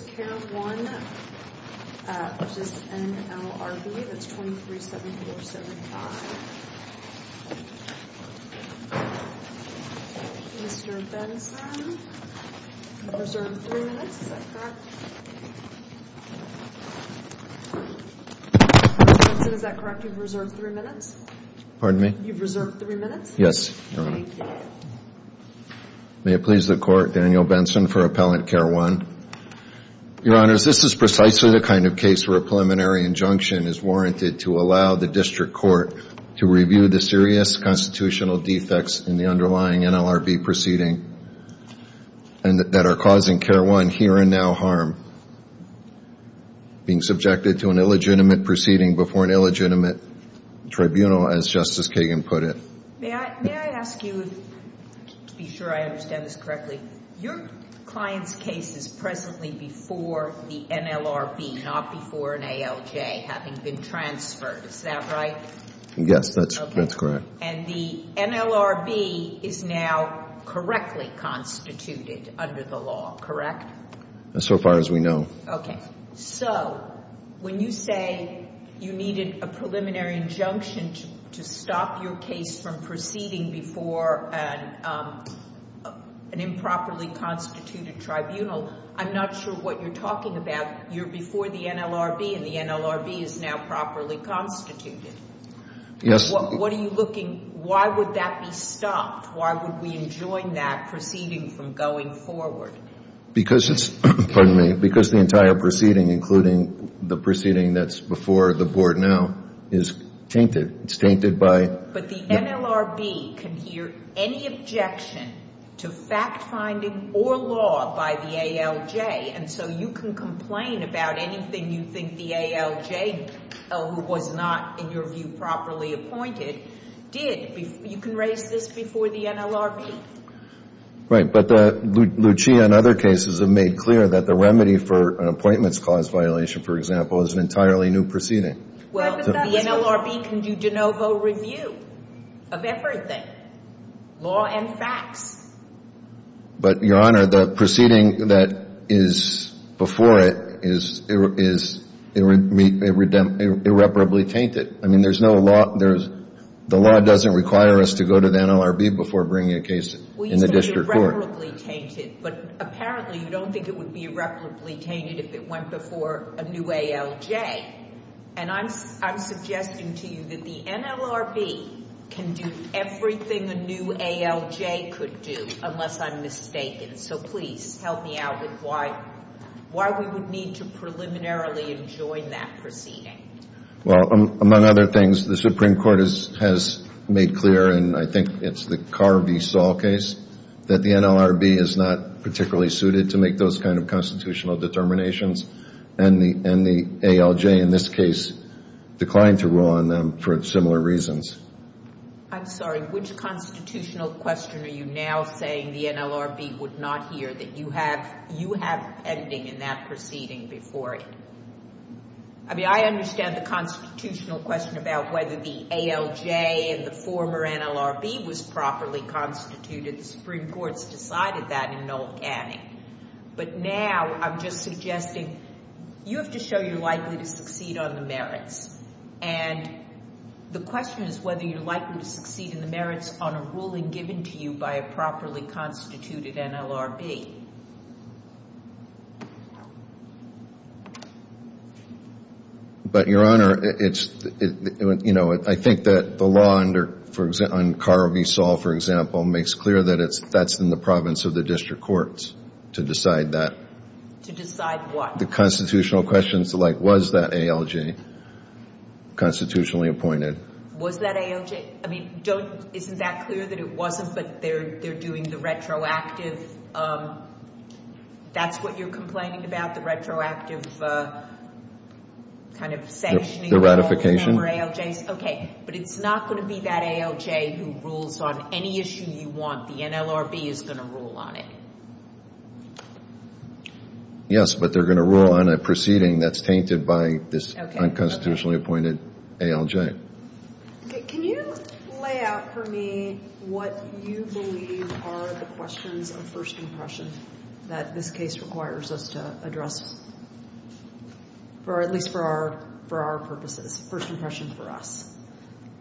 Appellant Care One, NLRB 237475 Mr. Benson, you have reserved 3 minutes, is that correct? Pardon me? You have reserved 3 minutes? Yes. Thank you. May it please the Court, Daniel Benson for Appellant Care One. Your Honors, this is precisely the kind of case where a preliminary injunction is warranted to allow the District Court to review the serious constitutional defects in the underlying NLRB proceeding that are causing Care One here and now harm, being subjected to an illegitimate proceeding before an illegitimate tribunal, as Justice Kagan put it. May I ask you, to be sure I understand this correctly, your client's case is presently before the NLRB, not before an ALJ, having been transferred, is that right? Yes, that's correct. And the NLRB is now correctly constituted under the law, correct? So far as we know. Okay. So, when you say you needed a preliminary injunction to stop your case from proceeding before an improperly constituted tribunal, I'm not sure what you're talking about. You're before the NLRB and the NLRB is now properly constituted. Yes. What are you looking, why would that be stopped? Why would we enjoin that proceeding from going forward? Because it's, pardon me, because the entire proceeding, including the proceeding that's before the Board now, is tainted. It's tainted by... But the NLRB can hear any objection to fact-finding or law by the ALJ, and so you can complain about anything you think the ALJ, who was not, in your view, properly appointed, did. You can raise this before the NLRB. Right. But Lucia and other cases have made clear that the remedy for an appointments cause violation, for example, is an entirely new proceeding. Well, the NLRB can do de novo review of everything, law and facts. But, Your Honor, the proceeding that is before it is irreparably tainted. I mean, there's no law, there's, the law doesn't require us to go to the NLRB before bringing a case in the district court. It's irreparably tainted, but apparently you don't think it would be irreparably tainted if it went before a new ALJ. And I'm suggesting to you that the NLRB can do everything a new ALJ could do, unless I'm mistaken. So please help me out with why we would need to preliminarily enjoin that proceeding. Well, among other things, the Supreme Court has made clear, and I think it's the Carr v. Saul case, that the NLRB is not particularly suited to make those kind of constitutional determinations. And the ALJ, in this case, declined to rule on them for similar reasons. I'm sorry, which constitutional question are you now saying the NLRB would not hear that you have pending in that proceeding before it? I mean, I understand the constitutional question about whether the ALJ and the former NLRB was properly constituted. The Supreme Court's decided that in Noel Ganning. But now I'm just suggesting you have to show you're likely to succeed on the merits. And the question is whether you're likely to succeed in the merits on a ruling given to you by a properly constituted NLRB. But, Your Honor, I think that the law under Carr v. Saul, for example, makes clear that that's in the province of the district courts to decide that. To decide what? The constitutional questions like, was that ALJ constitutionally appointed? Was that ALJ? I mean, don't, isn't that clear that it wasn't, but they're doing the retroactive, that's what you're complaining about, the retroactive kind of sanctioning? The ratification. Okay. But it's not going to be that ALJ who rules on any issue you want. The NLRB is going to rule on it. Yes, but they're going to rule on a proceeding that's tainted by this unconstitutionally appointed ALJ. Can you lay out for me what you believe are the questions of first impression that this case requires us to address? Or at least for our purposes, first impression for us.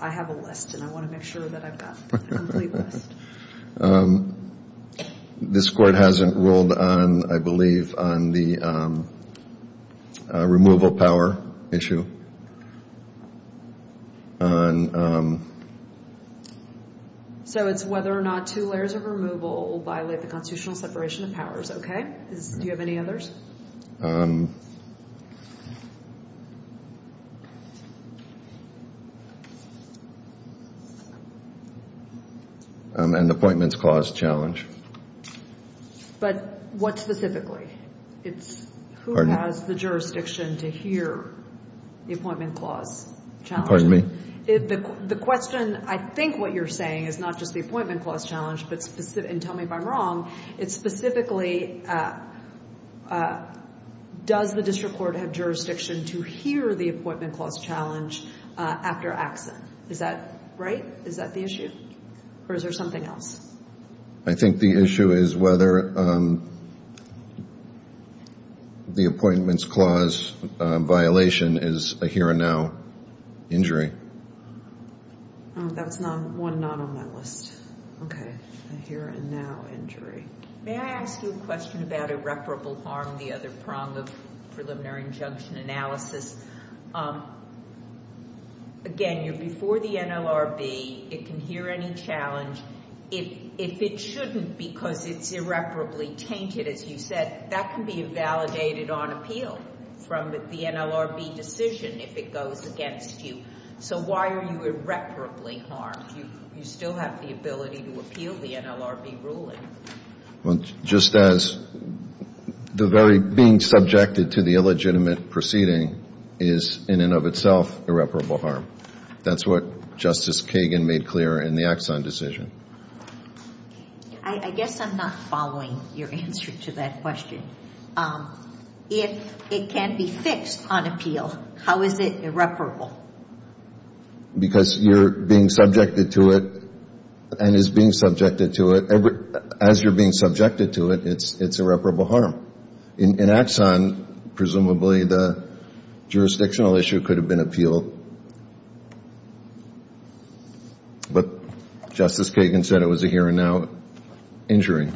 I have a list, and I want to make sure that I've got a complete list. This Court hasn't ruled on, I believe, on the removal power issue. So it's whether or not two layers of removal violate the constitutional separation of powers, okay? Do you have any others? Yes. And the appointments clause challenge. But what specifically? It's who has the jurisdiction to hear the appointment clause challenge? Pardon me? The question, I think what you're saying is not just the appointment clause challenge, and tell me if I'm wrong, it's specifically does the district court have jurisdiction to hear the appointment clause challenge after accident? Is that right? Is that the issue? Or is there something else? I think the issue is whether the appointments clause violation is a here and now injury. Oh, that's one not on that list. Okay, a here and now injury. May I ask you a question about irreparable harm, the other prong of preliminary injunction analysis? Again, you're before the NLRB. It can hear any challenge. If it shouldn't because it's irreparably tainted, as you said, that can be validated on appeal from the NLRB decision if it goes against you. So why are you irreparably harmed? You still have the ability to appeal the NLRB ruling. Well, just as the very being subjected to the illegitimate proceeding is in and of itself irreparable harm. That's what Justice Kagan made clear in the Exxon decision. I guess I'm not following your answer to that question. If it can be fixed on appeal, how is it irreparable? Because you're being subjected to it and is being subjected to it. As you're being subjected to it, it's irreparable harm. In Exxon, presumably the jurisdictional issue could have been appealed, but Justice Kagan said it was a here and now injury.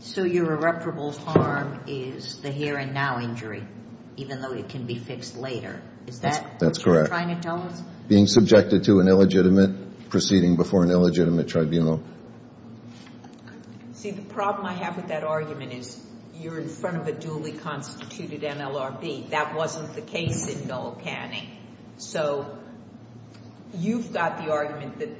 So your irreparable harm is the here and now injury, even though it can be fixed later. Is that what you're trying to tell us? Being subjected to an illegitimate proceeding before an illegitimate tribunal. See, the problem I have with that argument is you're in front of a duly constituted NLRB. That wasn't the case in Dole Canning. So you've got the argument that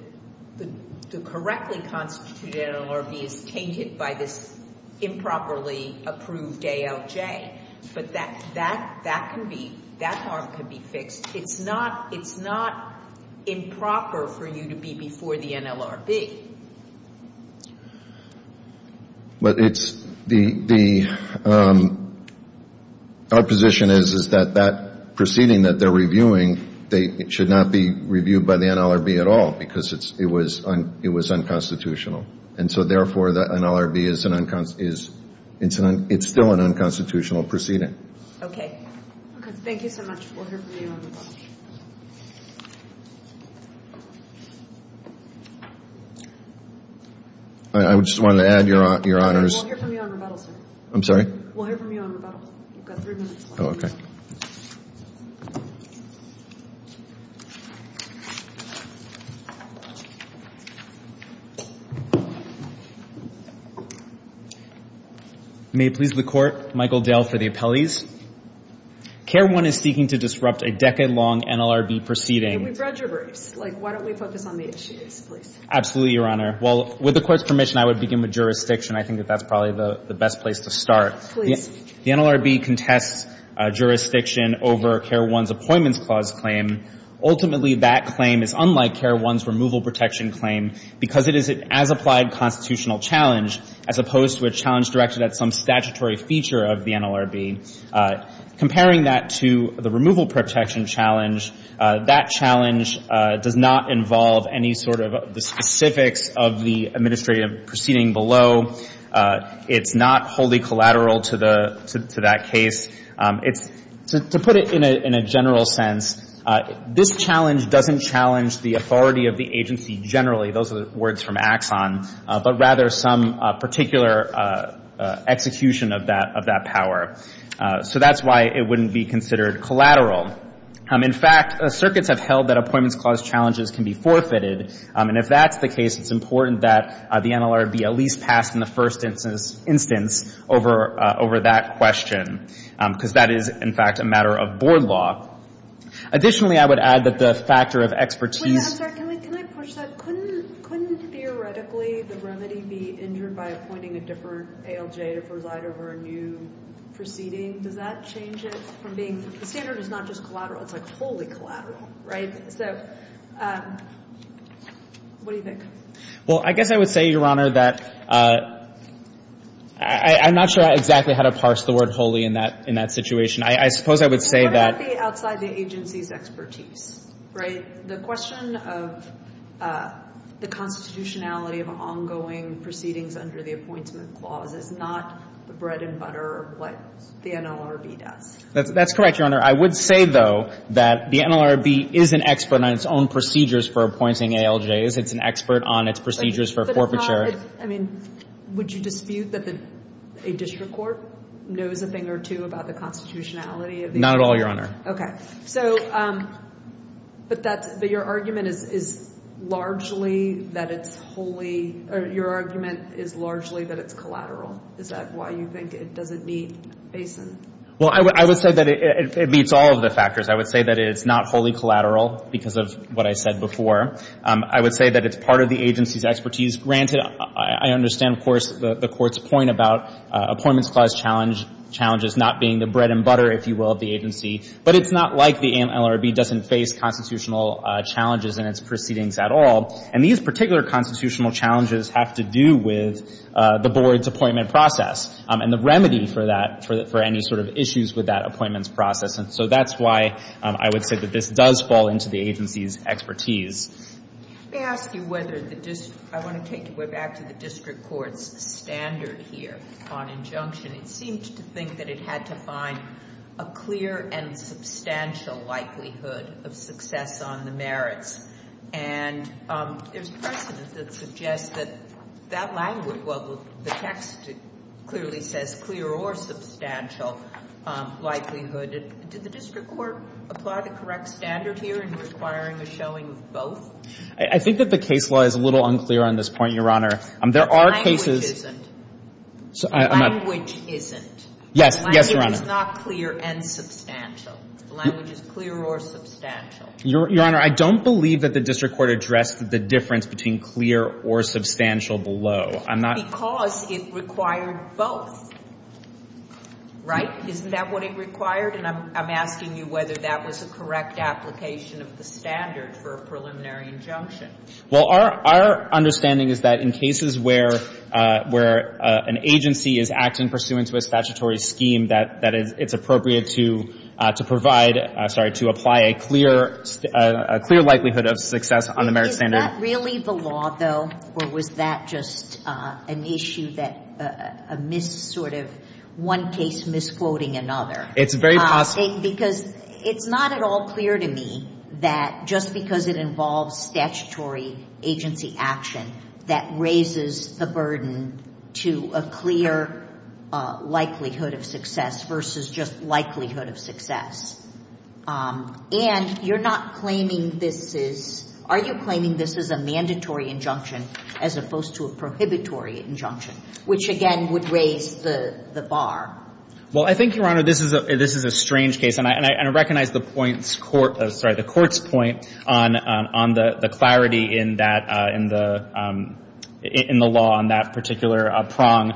the correctly constituted NLRB is tainted by this improperly approved ALJ. But that harm can be fixed. It's not improper for you to be before the NLRB. But our position is that that proceeding that they're reviewing, it should not be reviewed by the NLRB at all because it was unconstitutional. And so, therefore, the NLRB, it's still an unconstitutional proceeding. Okay. Okay. Thank you so much. We'll hear from you on the phone. I just wanted to add, Your Honors. We'll hear from you on rebuttal, sir. I'm sorry? We'll hear from you on rebuttal. You've got three minutes left. Oh, okay. May it please the Court, Michael Dell for the appellees. Care 1 is seeking to disrupt a decade-long NLRB proceeding. Can we bread your briefs? Like, why don't we focus on the issues, please? Absolutely, Your Honor. Well, with the Court's permission, I would begin with jurisdiction. I think that that's probably the best place to start. Please. The NLRB contests jurisdiction over Care 1's Appointments Clause claim. Ultimately, that claim is unlike Care 1's removal protection claim because it is an as-applied constitutional challenge, as opposed to a challenge directed at some statutory feature of the NLRB. Comparing that to the removal protection challenge, that challenge does not involve any sort of the specifics of the administrative proceeding below. It's not wholly collateral to that case. To put it in a general sense, this challenge doesn't challenge the authority of the agency generally. Those are the words from Axon. But rather, some particular execution of that power. So that's why it wouldn't be considered collateral. In fact, circuits have held that Appointments Clause challenges can be forfeited. And if that's the case, it's important that the NLRB at least pass in the first instance over that question, because that is, in fact, a matter of board law. Additionally, I would add that the factor of expertise I'm sorry. Can I push that? Couldn't theoretically the remedy be injured by appointing a different ALJ to preside over a new proceeding? Does that change it from being the standard is not just collateral. It's like wholly collateral, right? So what do you think? Well, I guess I would say, Your Honor, that I'm not sure exactly how to parse the word wholly in that situation. I suppose I would say that It would have to be outside the agency's expertise, right? The question of the constitutionality of ongoing proceedings under the Appointment Clause is not the bread and butter of what the NLRB does. That's correct, Your Honor. I would say, though, that the NLRB is an expert on its own procedures for appointing ALJs. It's an expert on its procedures for forfeiture. I mean, would you dispute that a district court knows a thing or two about the constitutionality of the ALJ? Not at all, Your Honor. Okay. So but your argument is largely that it's wholly or your argument is largely that it's collateral. Is that why you think it doesn't meet Basin? Well, I would say that it meets all of the factors. I would say that it's not wholly collateral because of what I said before. I would say that it's part of the agency's expertise. Granted, I understand, of course, the Court's point about Appointments Clause challenges not being the bread and butter, if you will, of the agency. But it's not like the NLRB doesn't face constitutional challenges in its proceedings at all. And these particular constitutional challenges have to do with the Board's appointment process and the remedy for that, for any sort of issues with that appointments process. And so that's why I would say that this does fall into the agency's expertise. Let me ask you whether the district – I want to take you way back to the district court's standard here on injunction. It seemed to think that it had to find a clear and substantial likelihood of success on the merits. And there's precedent that suggests that that language – well, the text clearly says clear or substantial likelihood. Did the district court apply the correct standard here in requiring a showing of both? I think that the case law is a little unclear on this point, Your Honor. There are cases – Language isn't. Language isn't. Yes. Yes, Your Honor. Language is not clear and substantial. Language is clear or substantial. Your Honor, I don't believe that the district court addressed the difference between clear or substantial below. I'm not – Because it required both. Right? Isn't that what it required? And I'm asking you whether that was a correct application of the standard for a preliminary injunction. Well, our understanding is that in cases where an agency is acting pursuant to a statutory scheme, that it's appropriate to provide – sorry, to apply a clear likelihood of success on the merits standard. Is that really the law, though, or was that just an issue that – a mis-sort of – one case misquoting another? It's very possible. Because it's not at all clear to me that just because it involves statutory agency action, that raises the burden to a clear likelihood of success versus just likelihood of success. And you're not claiming this is – are you claiming this is a mandatory injunction as opposed to a prohibitory injunction, which, again, would raise the bar? Well, I think, Your Honor, this is a strange case. And I recognize the point's court – sorry, the court's point on the clarity in that – in the law on that particular prong.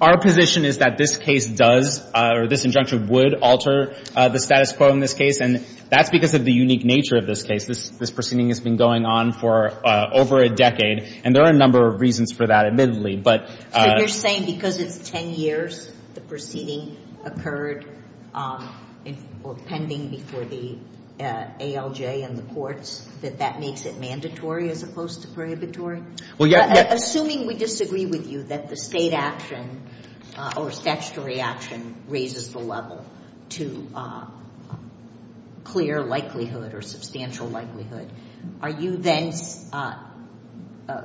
Our position is that this case does – or this injunction would alter the status quo in this case, and that's because of the unique nature of this case. This proceeding has been going on for over a decade, and there are a number of reasons for that, admittedly. So you're saying because it's 10 years, the proceeding occurred pending before the ALJ and the courts, that that makes it mandatory as opposed to prohibitory? Well, yeah. Assuming we disagree with you that the state action or statutory action raises the level to clear likelihood or substantial likelihood, are you then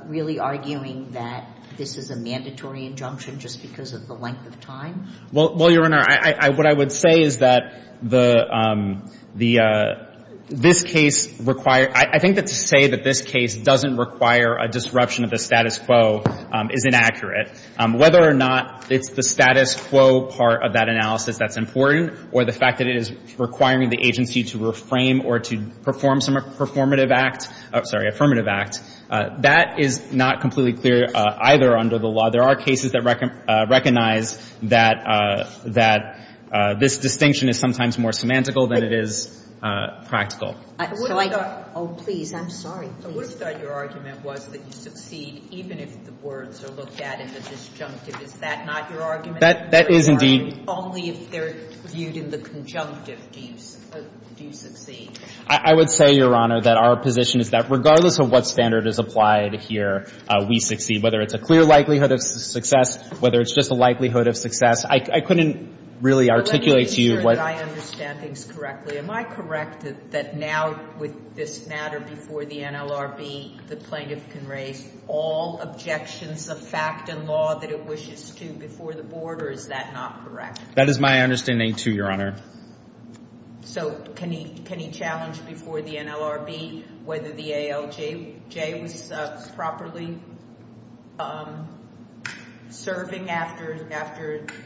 really arguing that this is a mandatory injunction just because of the length of time? Well, Your Honor, I – what I would say is that the – the – this case require – I think that to say that this case doesn't require a disruption of the status quo is inaccurate. Whether or not it's the status quo part of that analysis that's important or the fact that it is requiring the agency to reframe or to perform some performative act – sorry, affirmative act, that is not completely clear either under the law. There are cases that recognize that – that this distinction is sometimes more semantical than it is practical. So I – Oh, please. I'm sorry. Please. I would have thought your argument was that you succeed even if the words are looked at in the disjunctive. Is that not your argument? That is, indeed. Only if they're viewed in the conjunctive do you succeed. I would say, Your Honor, that our position is that regardless of what standard is applied here, we succeed, whether it's a clear likelihood of success, whether it's just a likelihood of success. I couldn't really articulate to you what – Well, let me make sure that I understand things correctly. Am I correct that now with this matter before the NLRB, the plaintiff can raise all objections of fact and law that it wishes to before the board, or is that not correct? That is my understanding, too, Your Honor. So can he challenge before the NLRB whether the ALJ was properly serving after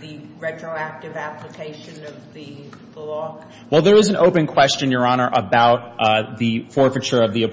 the retroactive application of the law? Well, there is an open question, Your Honor, about the forfeiture of the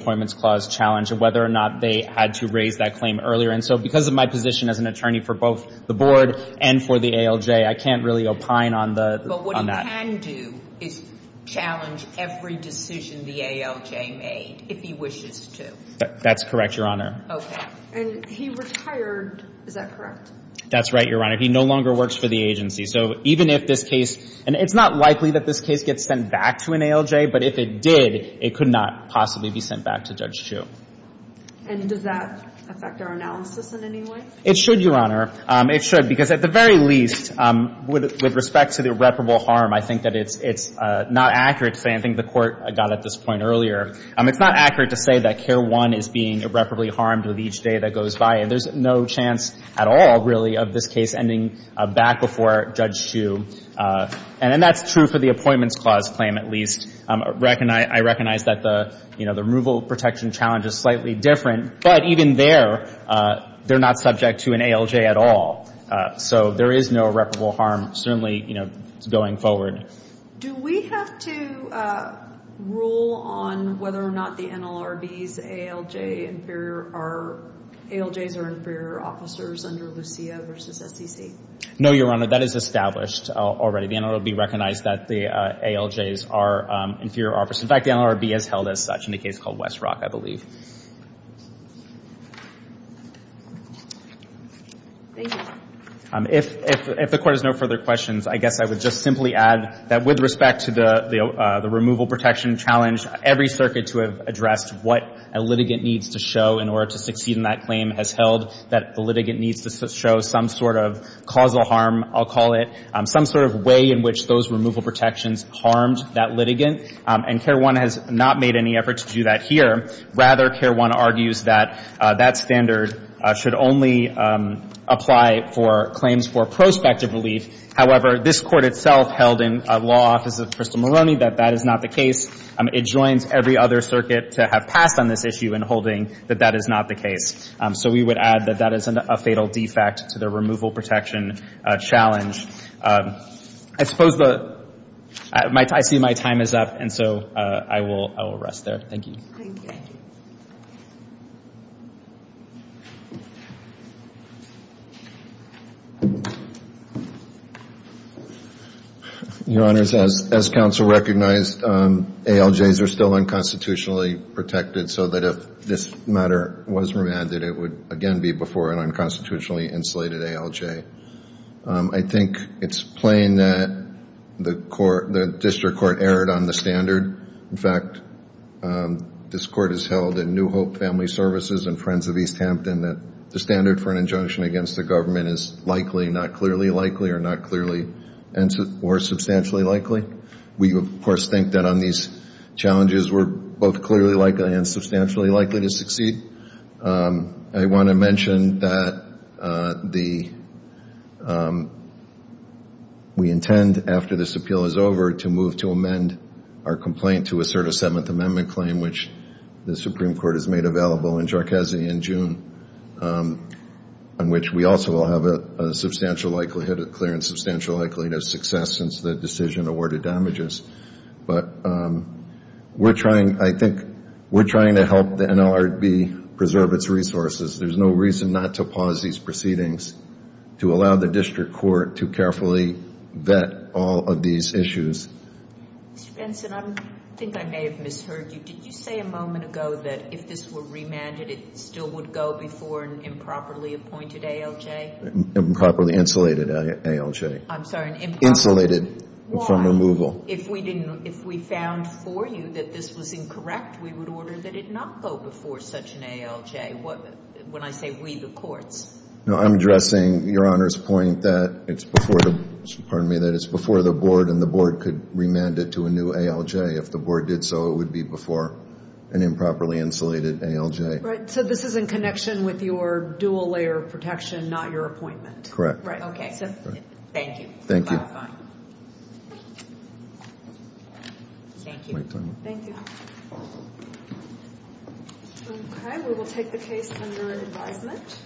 And so because of my position as an attorney for both the board and for the ALJ, I can't really opine on that. But what he can do is challenge every decision the ALJ made if he wishes to. That's correct, Your Honor. Okay. And he retired, is that correct? That's right, Your Honor. He no longer works for the agency. So even if this case – and it's not likely that this case gets sent back to an ALJ, but if it did, it could not possibly be sent back to Judge Chu. And does that affect our analysis in any way? It should, Your Honor. It should. Because at the very least, with respect to the irreparable harm, I think that it's not accurate to say – I think the Court got at this point earlier – it's not accurate to say that care one is being irreparably harmed with each day that goes by. There's no chance at all, really, of this case ending back before Judge Chu. And that's true for the Appointments Clause claim, at least. I recognize that the removal protection challenge is slightly different. But even there, they're not subject to an ALJ at all. So there is no irreparable harm, certainly, going forward. Do we have to rule on whether or not the NLRB's ALJs are inferior officers under Lucia v. SEC? No, Your Honor. That is established already. The NLRB recognized that the ALJs are inferior officers. In fact, the NLRB has held as such in a case called West Rock, I believe. Thank you. If the Court has no further questions, I guess I would just simply add that with respect to the removal protection challenge, every circuit to have addressed what a litigant needs to show in order to succeed in that claim has held that the litigant needs to show some sort of causal harm, I'll call it, some sort of way in which those removal protections harmed that litigant. And Kare 1 has not made any effort to do that here. Rather, Kare 1 argues that that standard should only apply for claims for prospective relief. However, this Court itself held in law, Office of Crystal Maroney, that that is not the case. It joins every other circuit to have passed on this issue in holding that that is not the case. So we would add that that is a fatal defect to the removal protection challenge. I suppose the – I see my time is up, and so I will rest there. Thank you. Thank you. Your Honors, as counsel recognized, ALJs are still unconstitutionally protected so that if this matter was remanded, it would, again, be before an unconstitutionally insulated ALJ. I think it's plain that the District Court erred on the standard. In fact, this Court has held in New Hope Family Services and Friends of East Hampton that the standard for an injunction against the government is likely, not clearly likely, or not clearly or substantially likely. We, of course, think that on these challenges, we're both clearly likely and substantially likely to succeed. I want to mention that the – we intend, after this appeal is over, to move to amend our complaint to assert a Seventh Amendment claim, which the Supreme Court has made available in Jarchese in June, on which we also will have a substantial likelihood, a clear and substantial likelihood of success since the decision awarded damages. But we're trying, I think, we're trying to help the NLRB preserve its resources. There's no reason not to pause these proceedings to allow the District Court to carefully vet all of these issues. Mr. Benson, I think I may have misheard you. Did you say a moment ago that if this were remanded, it still would go before an improperly appointed ALJ? Improperly insulated ALJ. I'm sorry. Insulated from removal. If we didn't – if we found for you that this was incorrect, we would order that it not go before such an ALJ. When I say we, the courts. No, I'm addressing Your Honor's point that it's before the – pardon me – that it's before the board and the board could remand it to a new ALJ. If the board did so, it would be before an improperly insulated ALJ. Right. So this is in connection with your dual-layer protection, not your appointment. Correct. Right. Okay. Thank you. Thank you. Thank you. Okay. We will take the case under advisement.